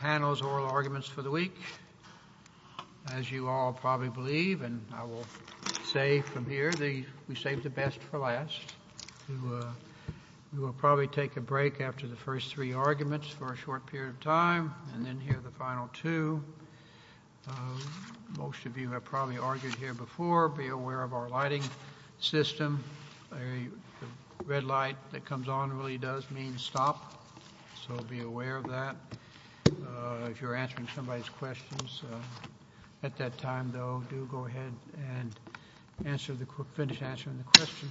Panel's oral arguments for the week. As you all probably believe, and I will say from here, we saved the best for last. We will probably take a break after the first three arguments for a short period of time, and then hear the final two. Most of you have probably argued here before, be aware of our lighting system. The red light that comes on really does mean stop, so be aware of that. If you're answering somebody's questions at that time, though, do go ahead and finish answering the question.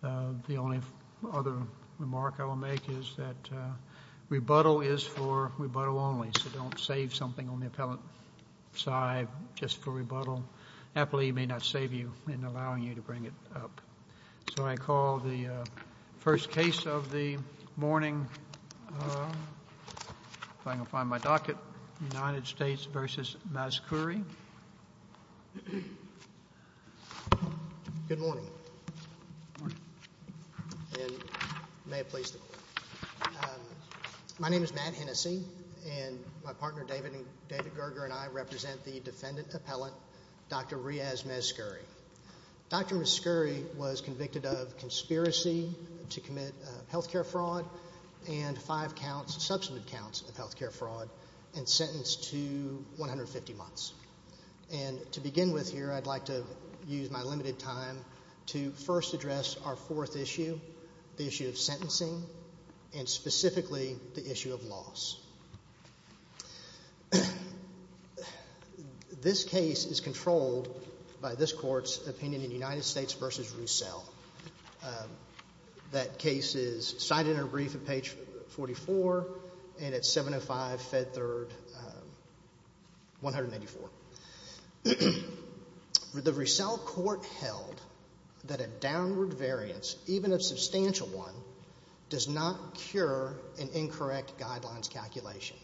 The only other remark I will make is that rebuttal is for rebuttal only, so don't save something on the appellate side just for rebuttal. Appellee may not save you in allowing you to bring it up. So I call the first case of the morning, if I can find my docket, United States v. Mazkouri. Good morning, and may it please the Court. My name is Matt Hennessey, and my partner David Gerger and I represent the defendant appellant, Dr. Riyaz Mazkouri. Dr. Mazkouri was convicted of conspiracy to commit health care fraud and five counts, substantive counts of health care fraud, and sentenced to 150 months. And to begin with here, I'd like to use my limited time to first address our fourth issue, the issue of sentencing, and specifically the issue of loss. This case is controlled by this Court's opinion in United States v. Roussell. That case is cited in our brief at page 44 and at 705 Fed Third 184. The Roussell Court held that a downward variance, even a substantial one, does not cure an incorrect guidelines calculation.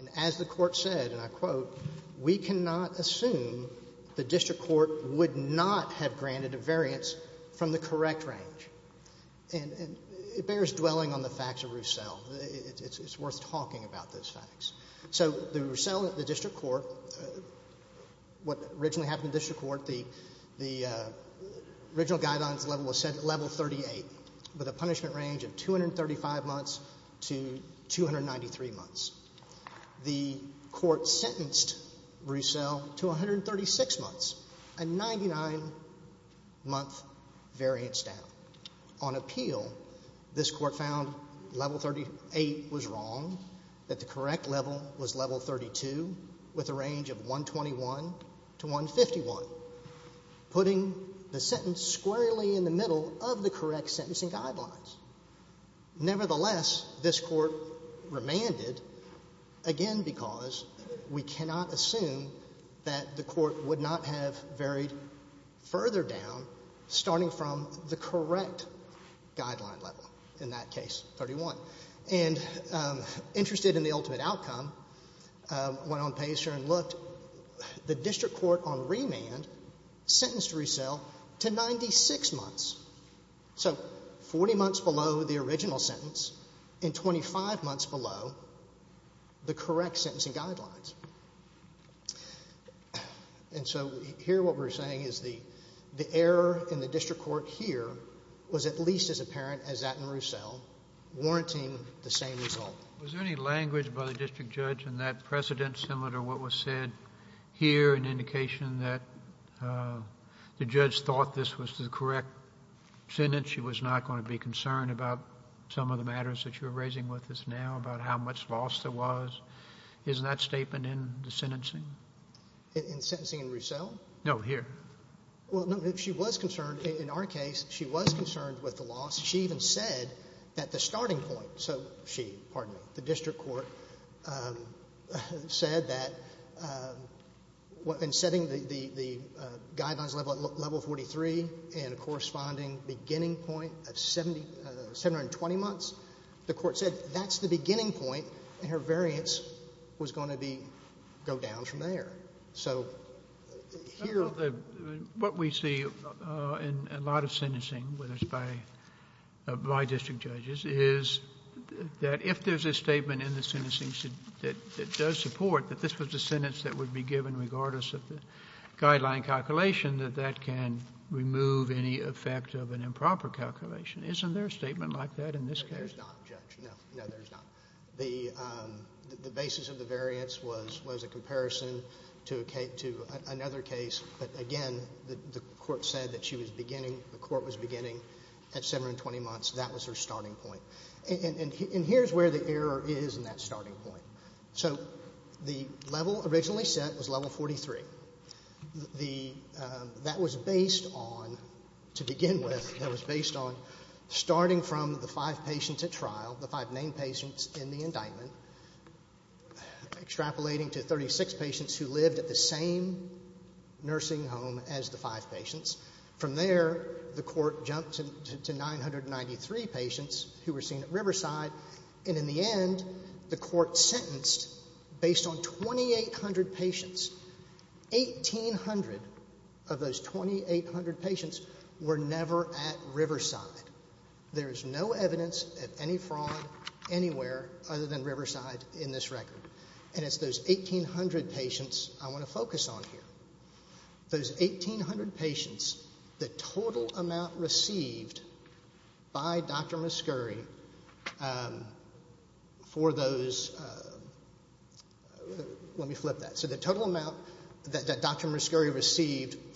And as the Court said, and I quote, we cannot assume the district court would not have granted a variance from the correct range. And it bears dwelling on the facts of Roussell. It's worth talking about those facts. So the Roussell, the district court, what originally happened in the district court, the original guidelines level was set at level 38, with a punishment range of 235 months to 293 months. The court sentenced Roussell to 136 months, a 99-month variance down. On appeal, this Court found level 38 was wrong, that the correct level was level 32, with a range of 121 to 151, putting the sentence squarely in the middle of the correct sentencing guidelines. Nevertheless, this Court did not assume that the court would not have varied further down, starting from the correct guideline level, in that case, 31. And interested in the ultimate outcome, went on page here and looked. The district court on remand sentenced Roussell to 96 months, so 40 months below the original sentence and 25 months below the correct sentencing guidelines. And so here what we're saying is the error in the district court here was at least as apparent as that in Roussell, warranting the same result. Was there any language by the district judge in that precedent similar to what was said here, an indication that the judge thought this was the correct sentence? She was not going to be concerned about some of the matters that you're raising with us now, about how much loss there was. Isn't that statement in the sentencing? In sentencing in Roussell? No, here. Well, no, she was concerned. In our case, she was concerned with the loss. She even said that the starting point, so she, pardon me, the district court said that in setting the guidelines level 43 and a corresponding beginning point of 720 months, the court said that's the beginning point and her variance was going to be, go down from there. So here What we see in a lot of sentencing, whether it's by district judges, is that if there's a statement in the sentencing that does support that this was the sentence that would be given regardless of the guideline calculation, that that can remove any effect of an improper calculation. Isn't there a statement like that in this case? No, there's not, Judge. No, no, there's not. The basis of the variance was a comparison to another case, but again, the court said that she was beginning, the court was beginning at 720 months. That was her starting point. And here's where the error is in that starting point. So the level originally set was level 43. That was based on, to begin with, that named patients in the indictment, extrapolating to 36 patients who lived at the same nursing home as the five patients. From there, the court jumped to 993 patients who were seen at Riverside, and in the end, the court sentenced based on 2,800 patients. 1,800 of those 2,800 patients were never at Riverside. There is no evidence of any fraud anywhere other than Riverside in this record. And it's those 1,800 patients I want to focus on here. Those 1,800 patients, the total amount received by Dr. Muscuri for those, let me flip that. So the total amount of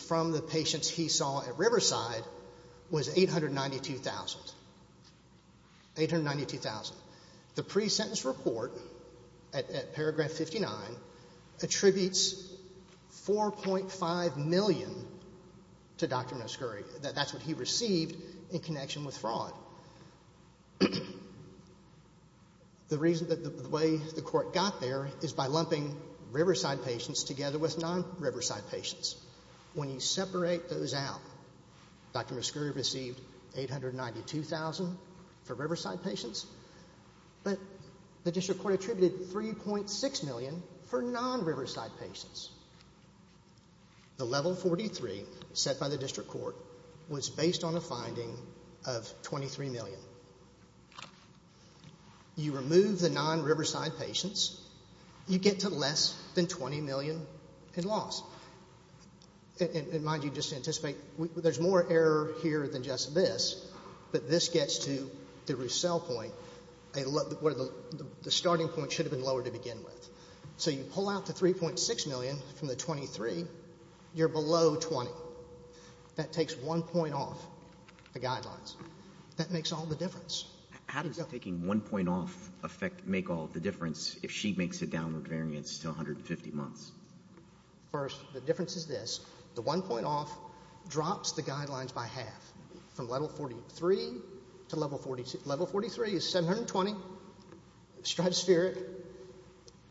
fraud at Riverside was 892,000, 892,000. The pre-sentence report at paragraph 59 attributes 4.5 million to Dr. Muscuri. That's what he received in connection with fraud. The reason that the way the court got there is by lumping Riverside patients together with non-Riverside patients. When you separate those out, Dr. Muscuri received 892,000 for Riverside patients, but the district court attributed 3.6 million for non-Riverside patients. The level 43 set by the district court was based on a finding of 23 million. You remove the non-Riverside patients, you get to less than 20 million in loss. And mind you, just to anticipate, there's more error here than just this, but this gets to the Roussell point, where the starting point should have been lower to begin with. So you pull out the 3.6 million from the 23, you're below 20. That takes one point off the guidelines. That makes all the difference. How does taking one point off make all the difference if she makes a downward variance to 150 months? First, the difference is this. The one point off drops the guidelines by half, from level 43 to level 42. Level 43 is 720, striped spirit.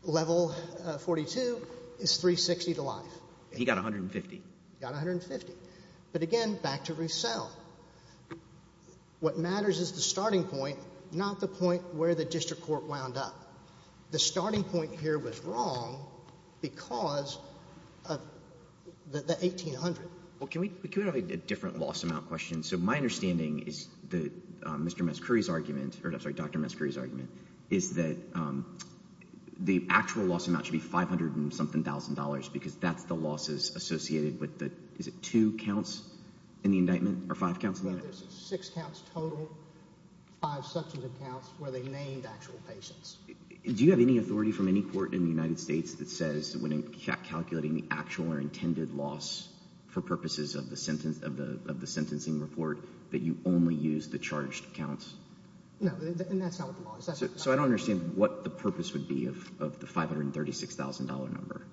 Level 42 is 360 to life. He got 150. He got 150. But again, back to Roussell. What matters is the starting point, not the point where the district court wound up. The starting point here was wrong because of the 1800. Well, can we have a different loss amount question? So my understanding is that Mr. Muscuri's argument, or I'm sorry, Dr. Muscuri's argument, is that the actual loss amount should be 500 and something thousand dollars because that's the losses associated with the, is it two counts in the indictment or five counts in the indictment? There's six counts total, five substantive counts where they named actual patients. Do you have any authority from any court in the United States that says when calculating the actual or intended loss for purposes of the sentencing report that you only use the charged counts? No, and that's not what the law is. So I don't understand what the purpose would be of the $536,000 number.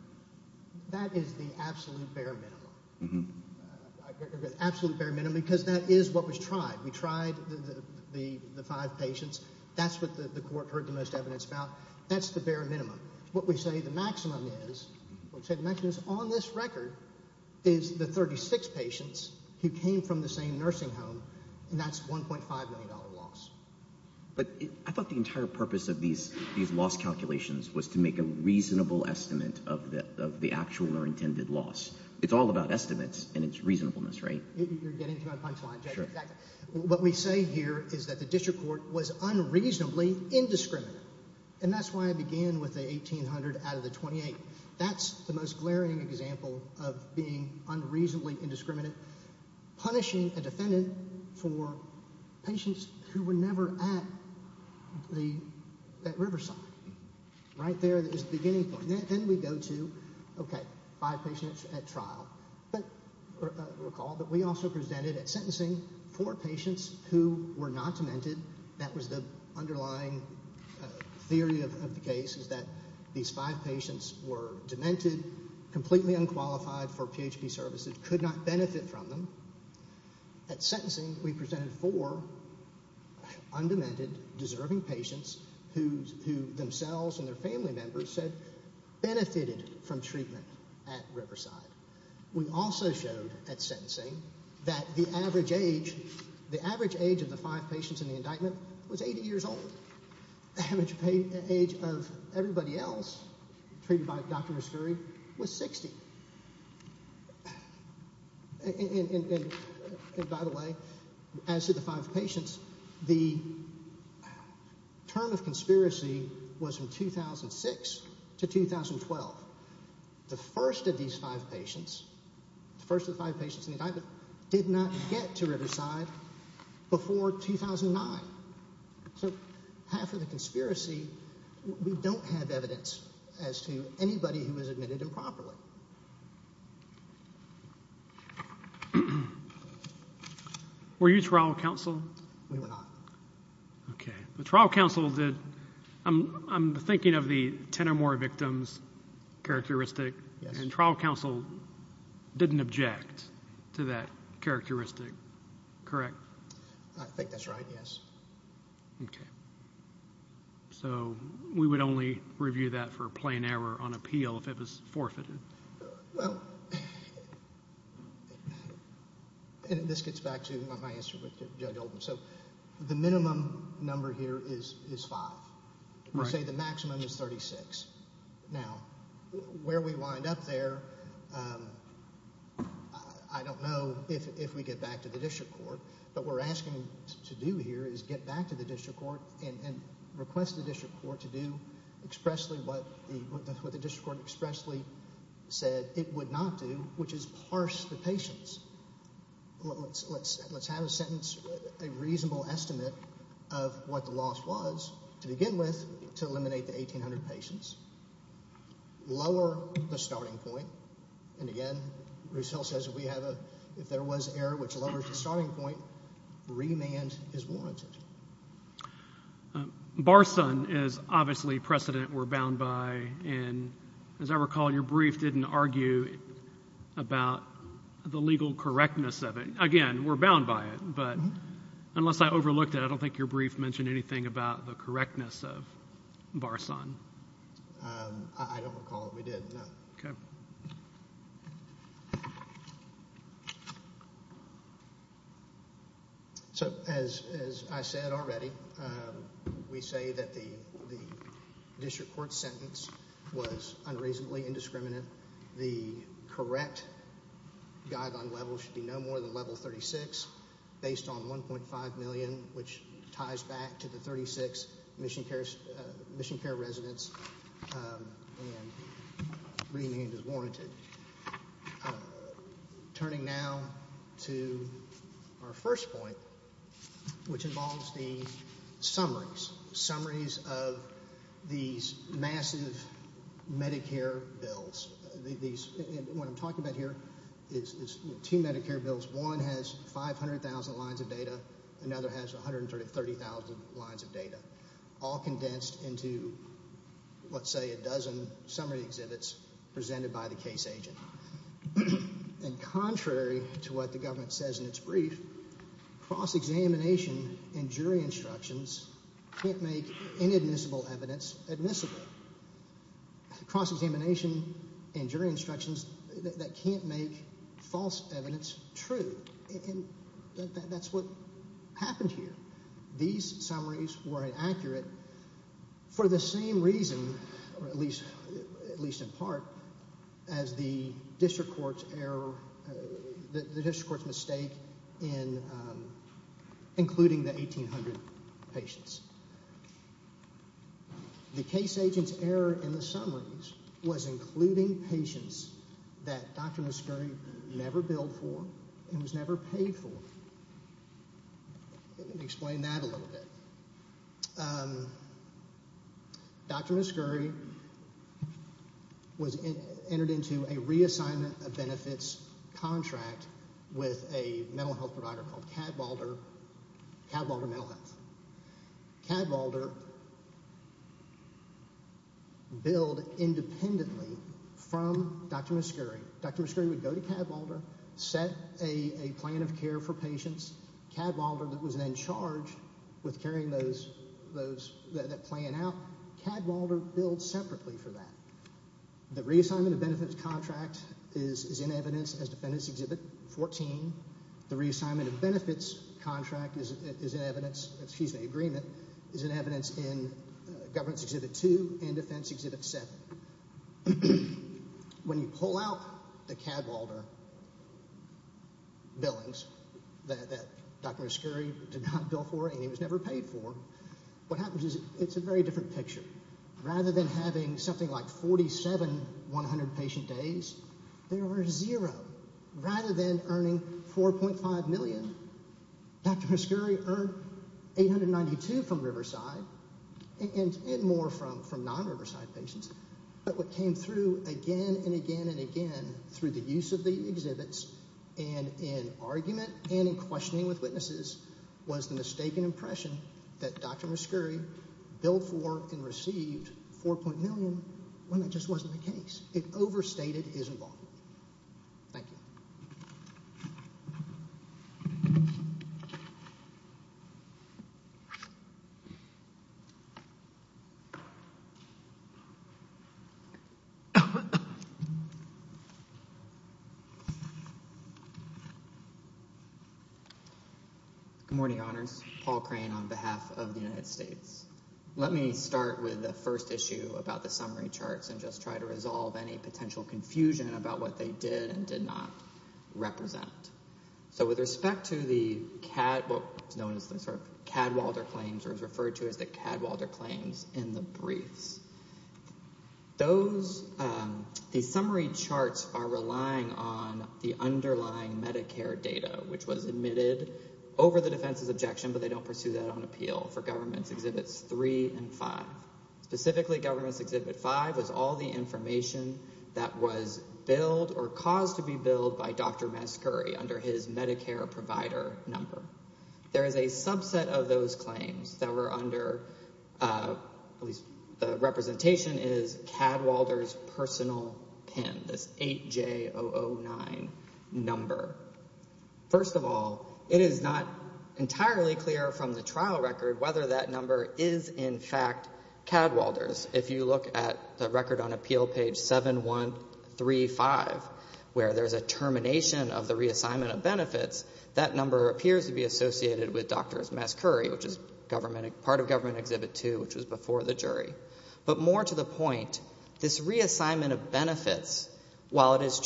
That is the absolute bare minimum. Absolute bare minimum because that is what was tried. We tried the five patients. That's what the court heard the most evidence about. That's the bare minimum. What we say the maximum is, what we say the maximum is on this record is the 36 patients who came from the same nursing home and that's $1.5 million loss. But I thought the entire purpose of these loss calculations was to make a reasonable estimate of the actual or intended loss. It's all about estimates and it's reasonableness, right? You're getting to my punchline. Sure. What we say here is that the district court was unreasonably indiscriminate and that's why I began with the 1,800 out of the 28. That's the most glaring example of being unreasonably indiscriminate, punishing a defendant for patients who were never at the, at Riverside. Right there is the beginning point. Then we go to, okay, five patients at trial. But recall that we also presented at sentencing four patients who were not demented. That was the underlying theory of the case is that these five patients were demented, completely unqualified for PHP services, could not benefit from them. At sentencing, we presented four undemented, deserving patients who themselves and their family members said benefited from treatment at Riverside. We also showed at sentencing that the average age, the average age of the five patients in the indictment was 80 years old. The average age of everybody else treated by Dr. Muscuri was 60. And by the way, as to the five patients, the term of conspiracy was from 2006 to 2012. The first of these five patients, the first of the five patients in the indictment did not get to Riverside before 2009. So half of the conspiracy, we didn't have anybody who was admitted improperly. Were you trial counsel? We were not. Okay. But trial counsel did, I'm, I'm thinking of the 10 or more victims characteristic and trial counsel didn't object to that characteristic, correct? I think that's right, yes. Okay. So we would only review that for a plain error on appeal if it was forfeited? Well, and this gets back to my answer with Judge Oldham. So the minimum number here is, is five. We say the maximum is 36. Now, where we wind up there, I don't know if, if we get back to the district court, but we're asking to do here is get back to the district court and request the district court to do expressly what the, what the district court expressly said it would not do, which is parse the patients. Let's, let's, let's have a sentence, a reasonable estimate of what the loss was to begin with, to eliminate the 1800 patients, lower the starting point. Remand is warranted. Bar son is obviously precedent we're bound by. And as I recall, your brief didn't argue about the legal correctness of it again, we're bound by it, but unless I overlooked it, I don't think your brief mentioned anything about the correctness of Bar son. I don't recall it. We didn't know. So as, as I said already, we say that the, the district court sentence was unreasonably indiscriminate. The correct guideline level should be no more than level 36 based on 1.5 million, which is the district court sentence. Remand is warranted. Turning now to our first point, which involves the summaries, summaries of these massive Medicare bills. These, what I'm talking about here is two Medicare bills. One has 500,000 lines of data. Another has 130,000 lines of data, all condensed into, let's say, a dozen summary exhibits presented by the case agent. And contrary to what the government says in its brief, cross-examination and jury instructions can't make inadmissible evidence admissible. Cross-examination and jury instructions, that can't make false evidence true. And that's what happened here. These summaries were inaccurate for the same reason, at least in part, as the district court's error, the district court's mistake in including the 1,800 patients. The case agent's error in the summaries was including patients that was never paid for. Let me explain that a little bit. Dr. Muscuri entered into a reassignment of benefits contract with a mental health provider called Cadwalder Mental Health. Cadwalder billed independently from Dr. Muscuri. Dr. Muscuri had a plan of care for patients. Cadwalder was then charged with carrying that plan out. Cadwalder billed separately for that. The reassignment of benefits contract is in evidence as Defendant's Exhibit 14. The reassignment of benefits contract is in evidence, excuse me, agreement, is in evidence in Governance Exhibit 2 and Defense Exhibit 7. When you pull out the Cadwalder billings that Dr. Muscuri did not bill for and he was never paid for, what happens is it's a very different picture. Rather than having something like 47, 100 patient days, there were zero. Rather than earning 4.5 million, Dr. Muscuri earned 892 from Riverside and more from non-Riverside patients. But what came through again and again and again through the use of the exhibits and in argument and in questioning with witnesses was the mistaken impression that Dr. Muscuri billed for and received 4. million when that Good morning, Honors. Paul Crane on behalf of the United States. Let me start with the first issue about the summary charts and just try to resolve any potential confusion about what they did and did not represent. So with respect to the Cadwalder claims or is referred to as the Cadwalder claims in the briefs, the summary charts are relying on the underlying Medicare data, which was admitted over the defense's objection, but they don't pursue that on appeal for Governance Exhibits 3 and 5. Specifically, Governance Exhibit 5 was all the information that was billed or caused to be billed by Dr. Muscuri under his Medicare provider number. There is a subset of those claims that were under, at least the representation is Cadwalder's personal PIN, this 8J009 number. First of all, it is not entirely clear from the trial record whether that number is in fact Cadwalder's. If you look at the record on Appeal Page 7135, where there is a termination of the reassignment of benefits, that number appears to be associated with Dr. Muscuri, which is part of Government Exhibit 2, which was before the jury. But more to the point, this reassignment of benefits, while it is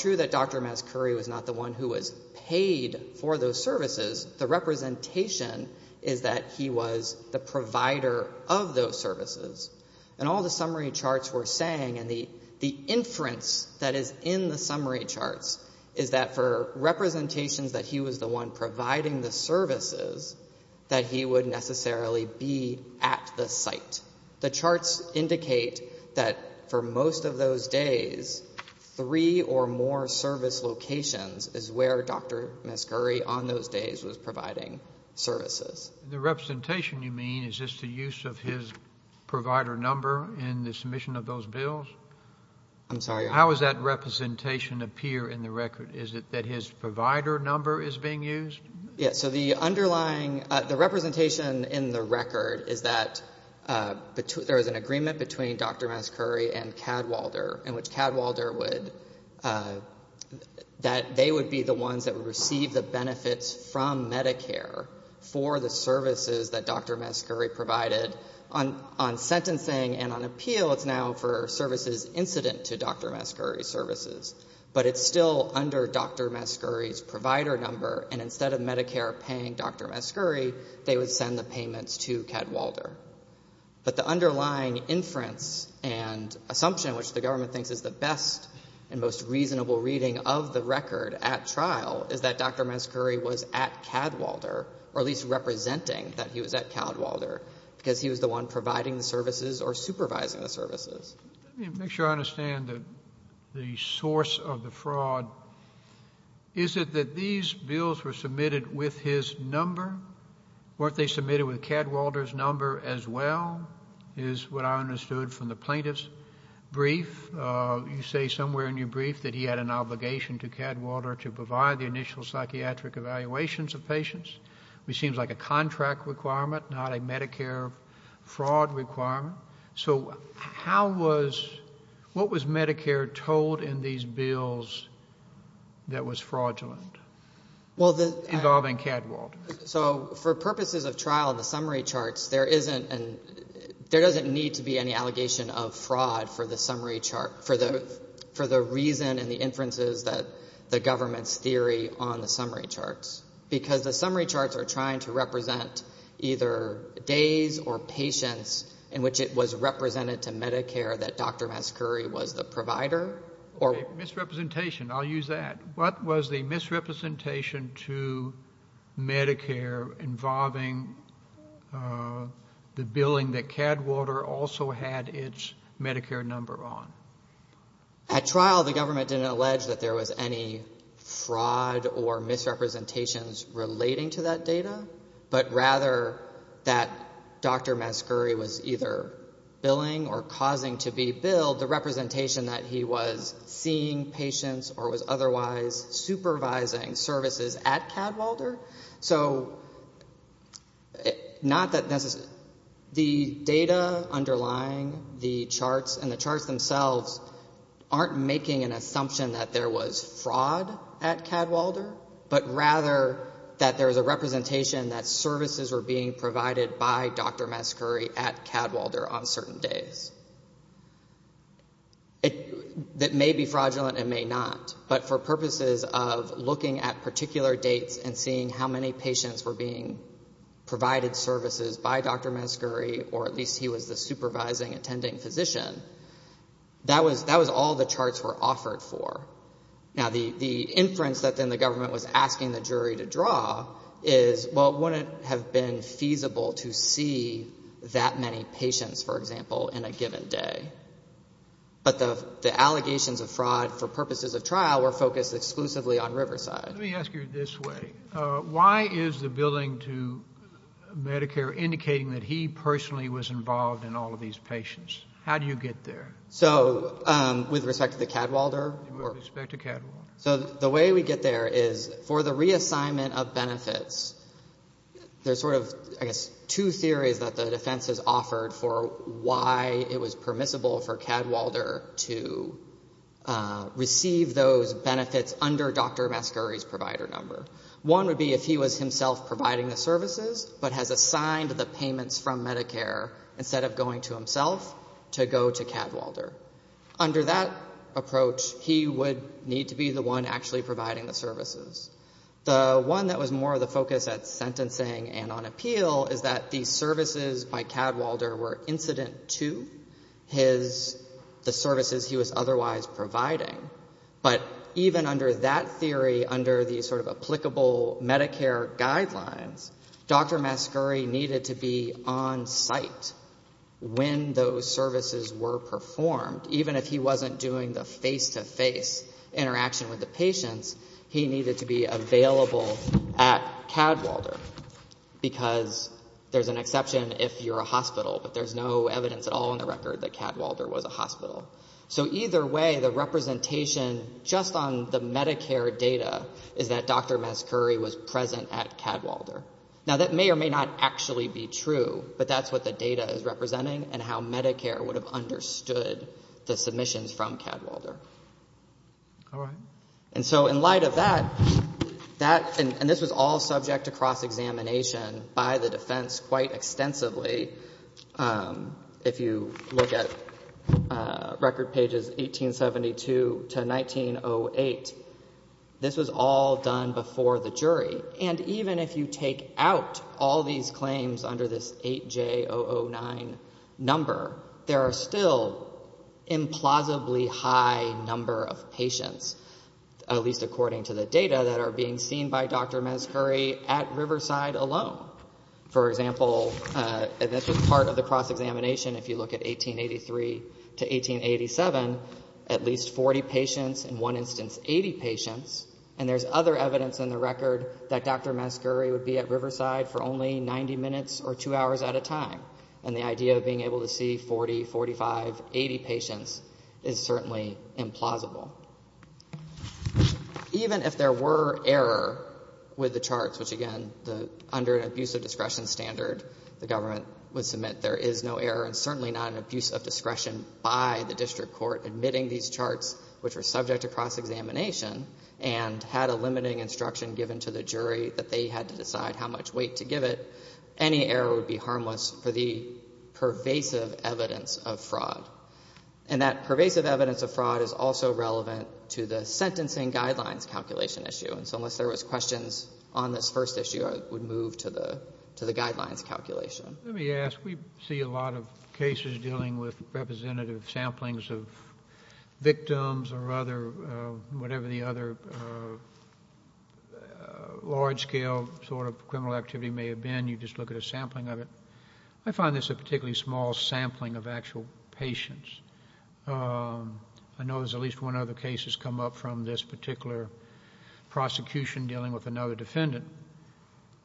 paid for those services, the representation is that he was the provider of those services. And all the summary charts were saying, and the inference that is in the summary charts, is that for representations that he was the one providing the services, that he would necessarily be at the site. The charts indicate that for most of those days, three or more service locations is where Dr. Muscuri on those days was providing services. The representation, you mean, is just the use of his provider number in the submission of those bills? I'm sorry? How does that representation appear in the record? Is it that his provider number is being used? Yes. So the underlying, the representation in the record is that there is an agreement between Dr. Muscuri and Cadwalder, in which Cadwalder would, that they would be the ones that would receive the benefits from Medicare for the services that Dr. Muscuri provided. On sentencing and on appeal, it's now for services incident to Dr. Muscuri's services. But it's still under Dr. Muscuri's provider number, and instead of Medicare paying Dr. Muscuri, they would send the payments to Cadwalder. But the underlying inference and assumption, which the government thinks is the best and most reasonable reading of the record at trial, is that Dr. Muscuri was at Cadwalder, or at least representing that he was at Cadwalder, because he was the one providing the services or supervising the services. Let me make sure I understand the source of the fraud. Is it that these bills were his number? Weren't they submitted with Cadwalder's number as well, is what I understood from the plaintiff's brief. You say somewhere in your brief that he had an obligation to Cadwalder to provide the initial psychiatric evaluations of patients, which seems like a contract requirement, not a Medicare fraud requirement. So how was, what was Medicare told in these bills that was fraudulent? Well, the Involving Cadwalder. So for purposes of trial, the summary charts, there isn't, there doesn't need to be any allegation of fraud for the summary chart, for the reason and the inferences that the government's theory on the summary charts. Because the summary charts are trying to represent either days or patients in which it was represented to Medicare that Dr. Muscuri was the provider, or I'll use that. What was the misrepresentation to Medicare involving the billing that Cadwalder also had its Medicare number on? At trial, the government didn't allege that there was any fraud or misrepresentations relating to that data, but rather that Dr. Muscuri was either billing or causing to be paying patients or was otherwise supervising services at Cadwalder. So not that necessarily, the data underlying the charts and the charts themselves aren't making an assumption that there was fraud at Cadwalder, but rather that there was a representation that services were being provided by Dr. Muscuri at Cadwalder on certain days. That may be fraudulent and may not, but for purposes of looking at particular dates and seeing how many patients were being provided services by Dr. Muscuri, or at least he was the supervising attending physician, that was all the charts were offered for. Now, the inference that then the government was asking the jury to draw is, well, wouldn't it have been feasible to see that many patients, for example, in a given day? But the allegations of fraud for purposes of trial were focused exclusively on Riverside. Let me ask you this way. Why is the billing to Medicare indicating that he personally was involved in all of these patients? How do you get there? So, with respect to Cadwalder? With respect to Cadwalder. So, the way we get there is, for the reassignment of benefits, there's sort of, I guess, two theories that the defense has offered for why it was permissible for Cadwalder to receive those benefits under Dr. Muscuri's provider number. One would be if he was himself providing the services, but has assigned the payments from Medicare, instead of going to one actually providing the services. The one that was more of the focus at sentencing and on appeal is that the services by Cadwalder were incident to his, the services he was otherwise providing. But even under that theory, under the sort of applicable Medicare guidelines, Dr. Muscuri needed to be on site when those services were performed, even if he wasn't doing the face-to-face interaction with the patients, he needed to be available at Cadwalder, because there's an exception if you're a hospital, but there's no evidence at all in the record that Cadwalder was a hospital. So, either way, the representation just on the Medicare data is that Dr. Muscuri was present at Cadwalder. Now, that may or may not actually be true, but that's what the from Cadwalder. All right. And so, in light of that, that, and this was all subject to cross-examination by the defense quite extensively. If you look at record pages 1872 to 1908, this was all done before the jury. And even if you take out all these claims under this 8J009 number, there are still implausibly high number of patients, at least according to the data, that are being seen by Dr. Muscuri at Riverside alone. For example, and this was part of the cross-examination, if you look at 1883 to 1887, at least 40 patients, in one instance 80 patients, and there's other evidence in the record that Dr. Muscuri would be at Riverside for only 90 minutes or two hours at a time. And the idea of being able to see 40, 45, 80 patients is certainly implausible. Even if there were error with the charts, which, again, under an abuse of discretion standard, the government would submit there is no error and certainly not an abuse of discretion by the district court admitting these charts, which were subject to cross-examination and had a limiting instruction given to the jury that they had to decide how much weight to give it, any error would be harmless for the pervasive evidence of fraud. And that pervasive evidence of fraud is also relevant to the sentencing guidelines calculation issue. And so unless there was questions on this first issue, I would move to the guidelines calculation. Let me ask. We see a lot of cases dealing with representative samplings of victims or other, whatever the other large-scale sort of criminal activity may have been. You just look at a sampling of it. I find this a particularly small sampling of actual patients. I know there's at least one other case that's come up from this particular prosecution dealing with another defendant.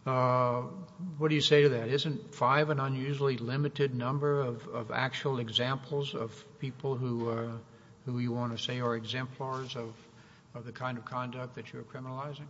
What do you say to that? Isn't five an unusually limited number of actual examples of people who you want to say are exemplars of the kind of conduct that you're criminalizing?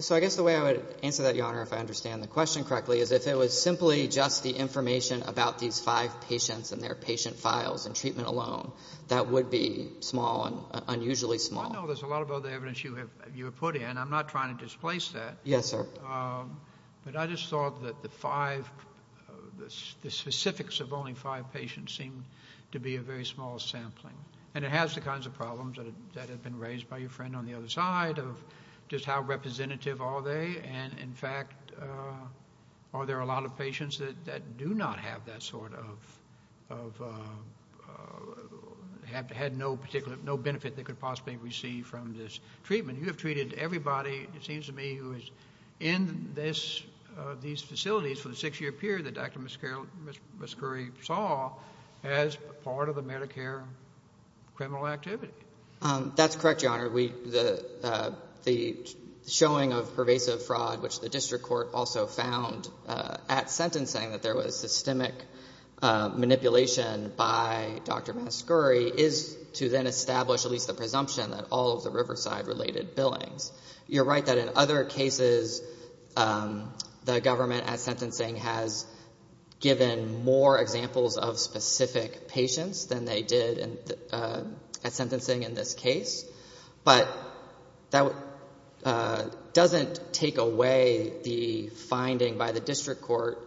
So I guess the way I would answer that, Your Honor, if I understand the question correctly, is if it was simply just the information about these five patients and their patient files and treatment alone, that would be small and unusually small. I know there's a lot of other evidence you have put in. I'm not trying to displace that. Yes, sir. But I just thought that the five, the specifics of only five patients seemed to be a very small sampling, and it has the kinds of problems that have been raised by your friend on the other side of just how representative are they, and, in fact, are there a lot of patients that do not have that sort of, have had no benefit they could possibly receive from this treatment? You have treated everybody, it seems to me, who is in these facilities for the six-year period that Dr. Mascuri saw as part of the Medicare criminal activity. That's correct, Your Honor. The showing of pervasive fraud, which the district court also found at sentencing that there was systemic manipulation by Dr. Mascuri, is to then establish at least the presumption that all of the Riverside-related billings. You're right that in other cases the government at sentencing has given more examples of specific patients than they did at sentencing in this case, but that doesn't take away the finding by the district court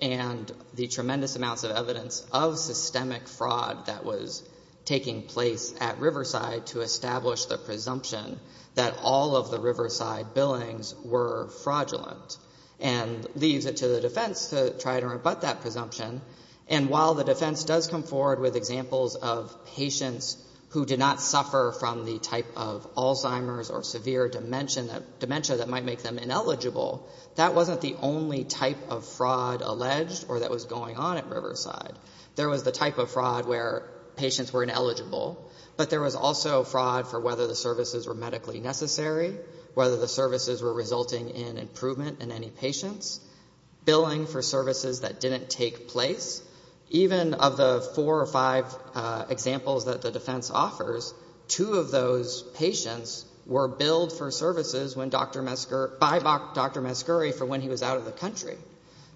and the tremendous amounts of evidence of systemic fraud that was taking place at Riverside to establish the presumption that all of the Riverside billings were fraudulent and leaves it to the defense to try to rebut that presumption. And while the defense does come forward with examples of patients who did not suffer from the type of Alzheimer's or severe dementia that might make them ineligible, that wasn't the only type of fraud alleged or that was going on at Riverside. There was the type of fraud where patients were ineligible, but there was also fraud for whether the services were medically necessary, whether the services were resulting in improvement in any patients, billing for services that didn't take place. Even of the four or five examples that the defense offers, two of those patients were billed for services by Dr. Mascuri for when he was out of the country.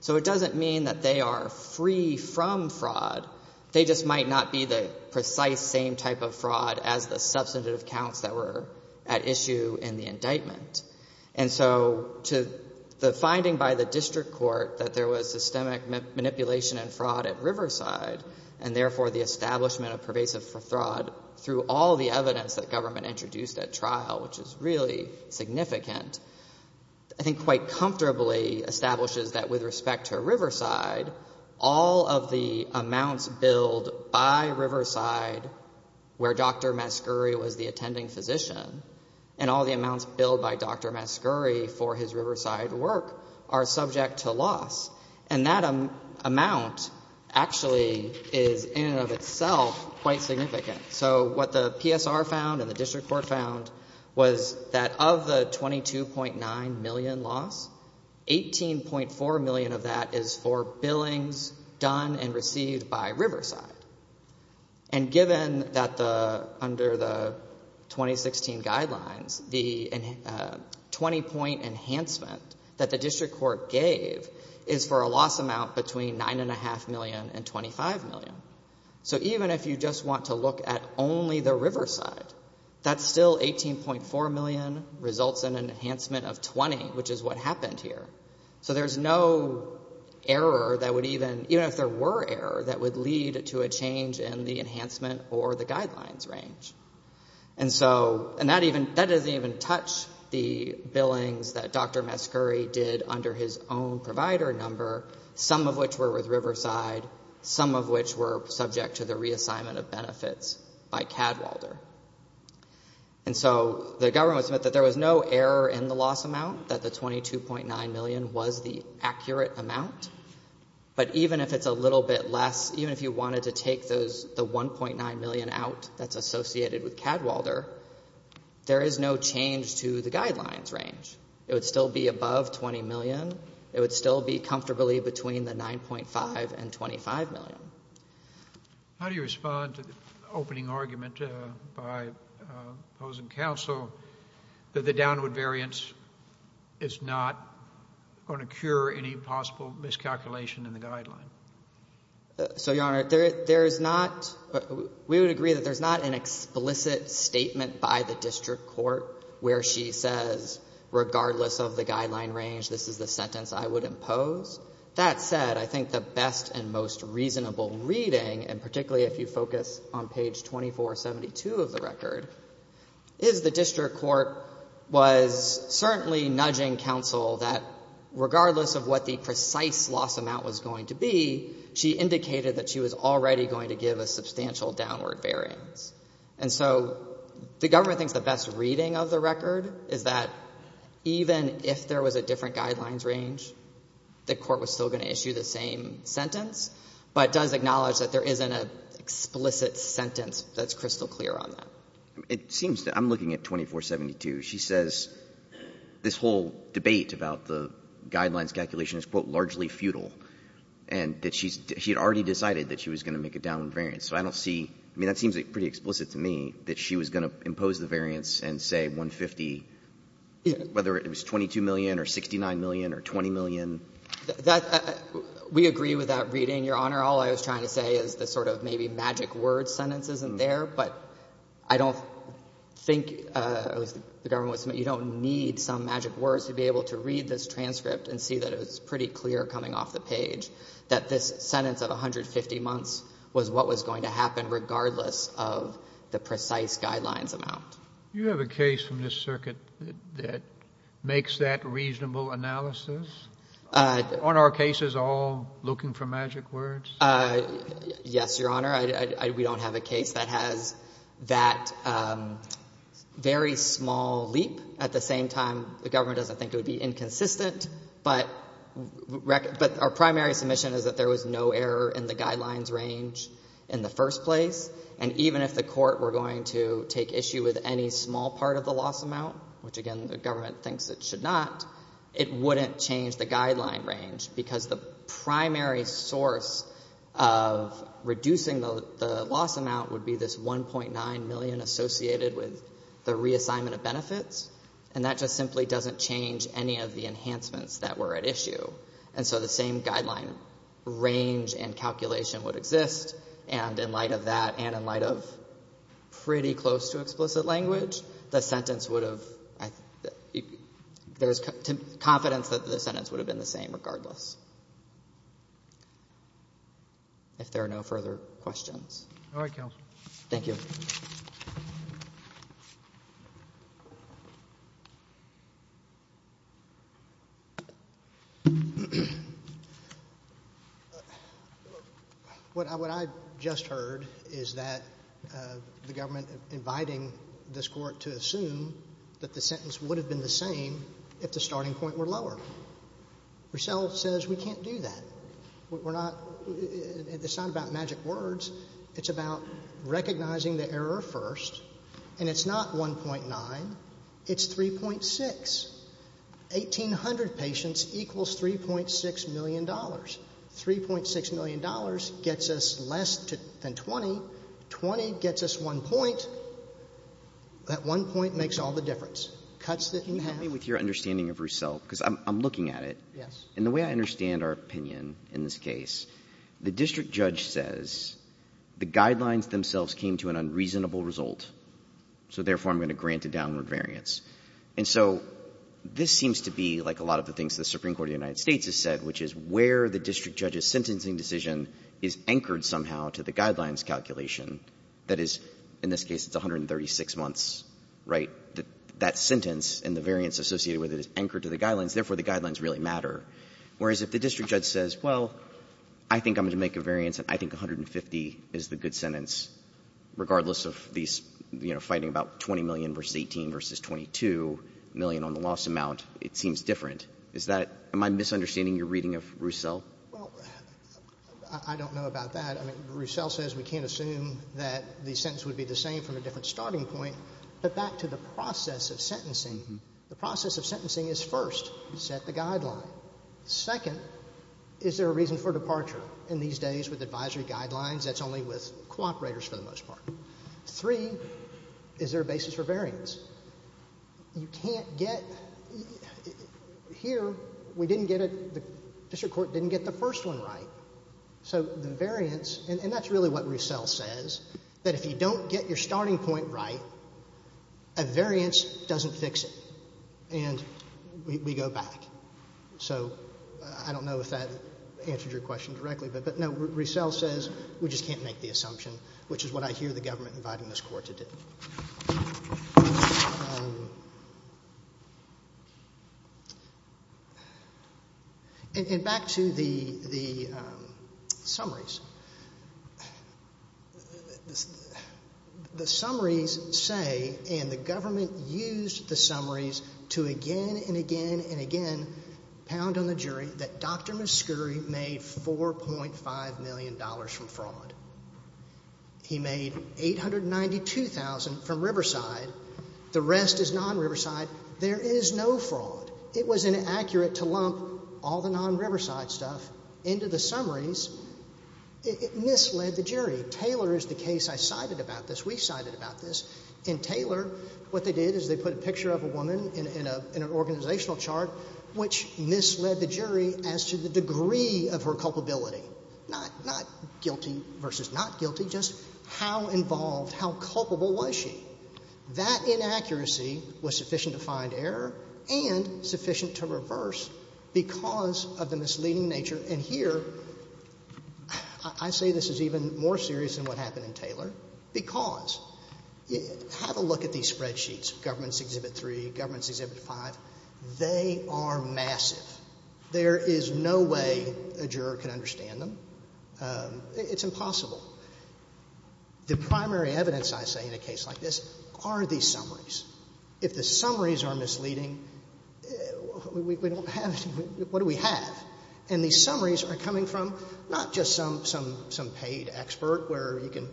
So it doesn't mean that they are free from fraud. They just might not be the precise same type of fraud as the substantive counts that were at issue in the indictment. And so the finding by the district court that there was systemic manipulation and fraud at Riverside and therefore the establishment of pervasive fraud through all the evidence that government introduced at trial, which is really significant, I think quite comfortably establishes that with respect to Riverside, all of the amounts billed by Riverside where Dr. Mascuri was the attending physician and all the amounts billed by Dr. Mascuri for his Riverside work are subject to loss. And that amount actually is in and of itself quite significant. So what the PSR found and the district court found was that of the $22.9 million loss, $18.4 million of that is for billings done and received by Riverside. And given that under the 2016 guidelines, the 20-point enhancement that the district court gave is for a loss amount between $9.5 million and $25 million. So even if you just want to look at only the Riverside, that's still $18.4 million results in an enhancement of 20, which is what happened here. So there's no error that would even, even if there were error, that would lead to a change in the enhancement or the guidelines range. And so, and that doesn't even touch the billings that Dr. Mascuri did under his own provider number, some of which were with Riverside, some of which were subject to the reassignment of benefits by Cadwalder. And so the government would submit that there was no error in the loss amount, that the $22.9 million was the accurate amount. But even if it's a little bit less, even if you wanted to take the $1.9 million out that's associated with Cadwalder, there is no change to the guidelines range. It would still be above $20 million. It would still be comfortably between the $9.5 million and $25 million. How do you respond to the opening argument by opposing counsel that the downward variance is not going to cure any possible miscalculation in the guideline? So, Your Honor, there is not, we would agree that there's not an explicit statement by the district court where she says, regardless of the guideline range, this is the sentence I would impose. That said, I think the best and most reasonable reading, and particularly if you focus on page 2472 of the record, is the district court was certainly nudging counsel that, regardless of what the precise loss amount was going to be, she indicated that she was already going to give a substantial downward variance. And so the government thinks the best reading of the record is that even if there was a different guidelines range, the court was still going to issue the same sentence, but does acknowledge that there isn't an explicit sentence that's crystal clear on that. It seems to, I'm looking at 2472. She says this whole debate about the guidelines calculation is, quote, largely futile, and that she had already decided that she was going to make a downward variance. So I don't see, I mean, that seems pretty explicit to me that she was going to impose the variance and say 150, whether it was $22 million or $69 million or $20 million. That, we agree with that reading, Your Honor. All I was trying to say is the sort of maybe magic word sentence isn't there, but I don't think the government, you don't need some magic words to be able to read this transcript and see that it's pretty clear coming off the page that this sentence of 150 months was what was going to happen regardless of the precise guidelines amount. You have a case from this circuit that makes that reasonable analysis? Aren't our cases all looking for magic words? Yes, Your Honor. We don't have a case that has that very small leap. At the same time, the government doesn't think it would be inconsistent, but our primary submission is that there was no error in the guidelines range in the first place, and even if the court were going to take issue with any small part of the loss amount, which again, the government thinks it should not, it wouldn't change the guideline range because the primary source of reducing the loss amount would be this $1.9 million associated with the reassignment of benefits, and that just simply doesn't change any of the enhancements that were at issue. And so the same guideline range and calculation would exist, and in light of that and in light of pretty close to explicit language, the sentence would have there's confidence that the sentence would have been the same regardless. If there are no further questions. All right, counsel. Thank you. Thank you. What I just heard is that the government inviting this court to assume that the sentence would have been the same if the starting point were lower. Purcell says we can't do that. It's not about magic words. It's about recognizing the error first. And it's not 1.9. It's 3.6. 1,800 patients equals $3.6 million. $3.6 million gets us less than 20. 20 gets us one point. That one point makes all the difference. Cuts that you have. Can you help me with your understanding of Purcell? Because I'm looking at it. Yes. In the way I understand our opinion in this case, the district judge says the guidelines themselves came to an unreasonable result, so therefore I'm going to grant a downward variance. And so this seems to be like a lot of the things the Supreme Court of the United States has said, which is where the district judge's sentencing decision is anchored somehow to the guidelines calculation. That is, in this case, it's 136 months, right? That sentence and the variance associated with it is anchored to the guidelines. Therefore, the guidelines really matter. Whereas if the district judge says, well, I think I'm going to make a variance and I think 150 is the good sentence, regardless of these, you know, fighting about 20 million versus 18 versus 22 million on the loss amount, it seems different. Is that my misunderstanding, your reading of Purcell? Well, I don't know about that. I mean, Purcell says we can't assume that the sentence would be the same from a different starting point. But back to the process of sentencing, the process of sentencing is first. Set the guideline. Second, is there a reason for departure? And these days with advisory guidelines, that's only with cooperators for the most part. Three, is there a basis for variance? You can't get here. We didn't get it. The district court didn't get the first one right. So the variance, and that's really what Purcell says, that if you don't get your starting point right, a variance doesn't fix it. And we go back. So I don't know if that answered your question directly. But, no, Purcell says we just can't make the assumption, which is what I hear the government inviting this court to do. And back to the summaries. The summaries say, and the government used the summaries to again and again and again pound on the jury, that Dr. Muscuri made $4.5 million from fraud. He made $892,000 from Riverside. The rest is non-Riverside. There is no fraud. It was inaccurate to lump all the non-Riverside stuff into the summaries It misled the jury. Taylor is the case. I cited about this. We cited about this. In Taylor, what they did is they put a picture of a woman in an organizational chart, which misled the jury as to the degree of her culpability. Not guilty versus not guilty, just how involved, how culpable was she? That inaccuracy was sufficient to find error and sufficient to reverse because of the misleading nature. And here, I say this is even more serious than what happened in Taylor because have a look at these spreadsheets, Governments Exhibit 3, Governments Exhibit 5. They are massive. There is no way a juror can understand them. It's impossible. The primary evidence, I say, in a case like this are these summaries. If the summaries are misleading, we don't have anything. What do we have? And these summaries are coming from not just some paid expert where you can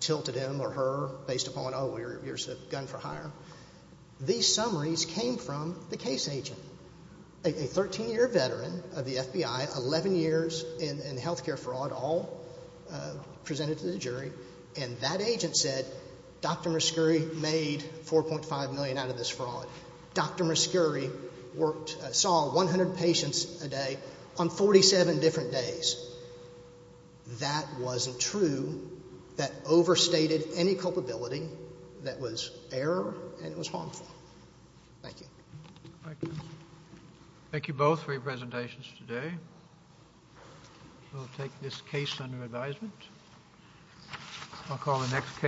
tilt at him or her based upon, oh, you're a gun for hire. These summaries came from the case agent, a 13-year veteran of the FBI, 11 years in health care fraud, all presented to the jury. And that agent said, Dr. Muscuri made $4.5 million out of this fraud. Dr. Muscuri worked, saw 100 patients a day on 47 different days. That wasn't true. That overstated any culpability that was error and it was harmful. Thank you. Thank you. Thank you both for your presentations today. We'll take this case under advisement. I'll call the next case.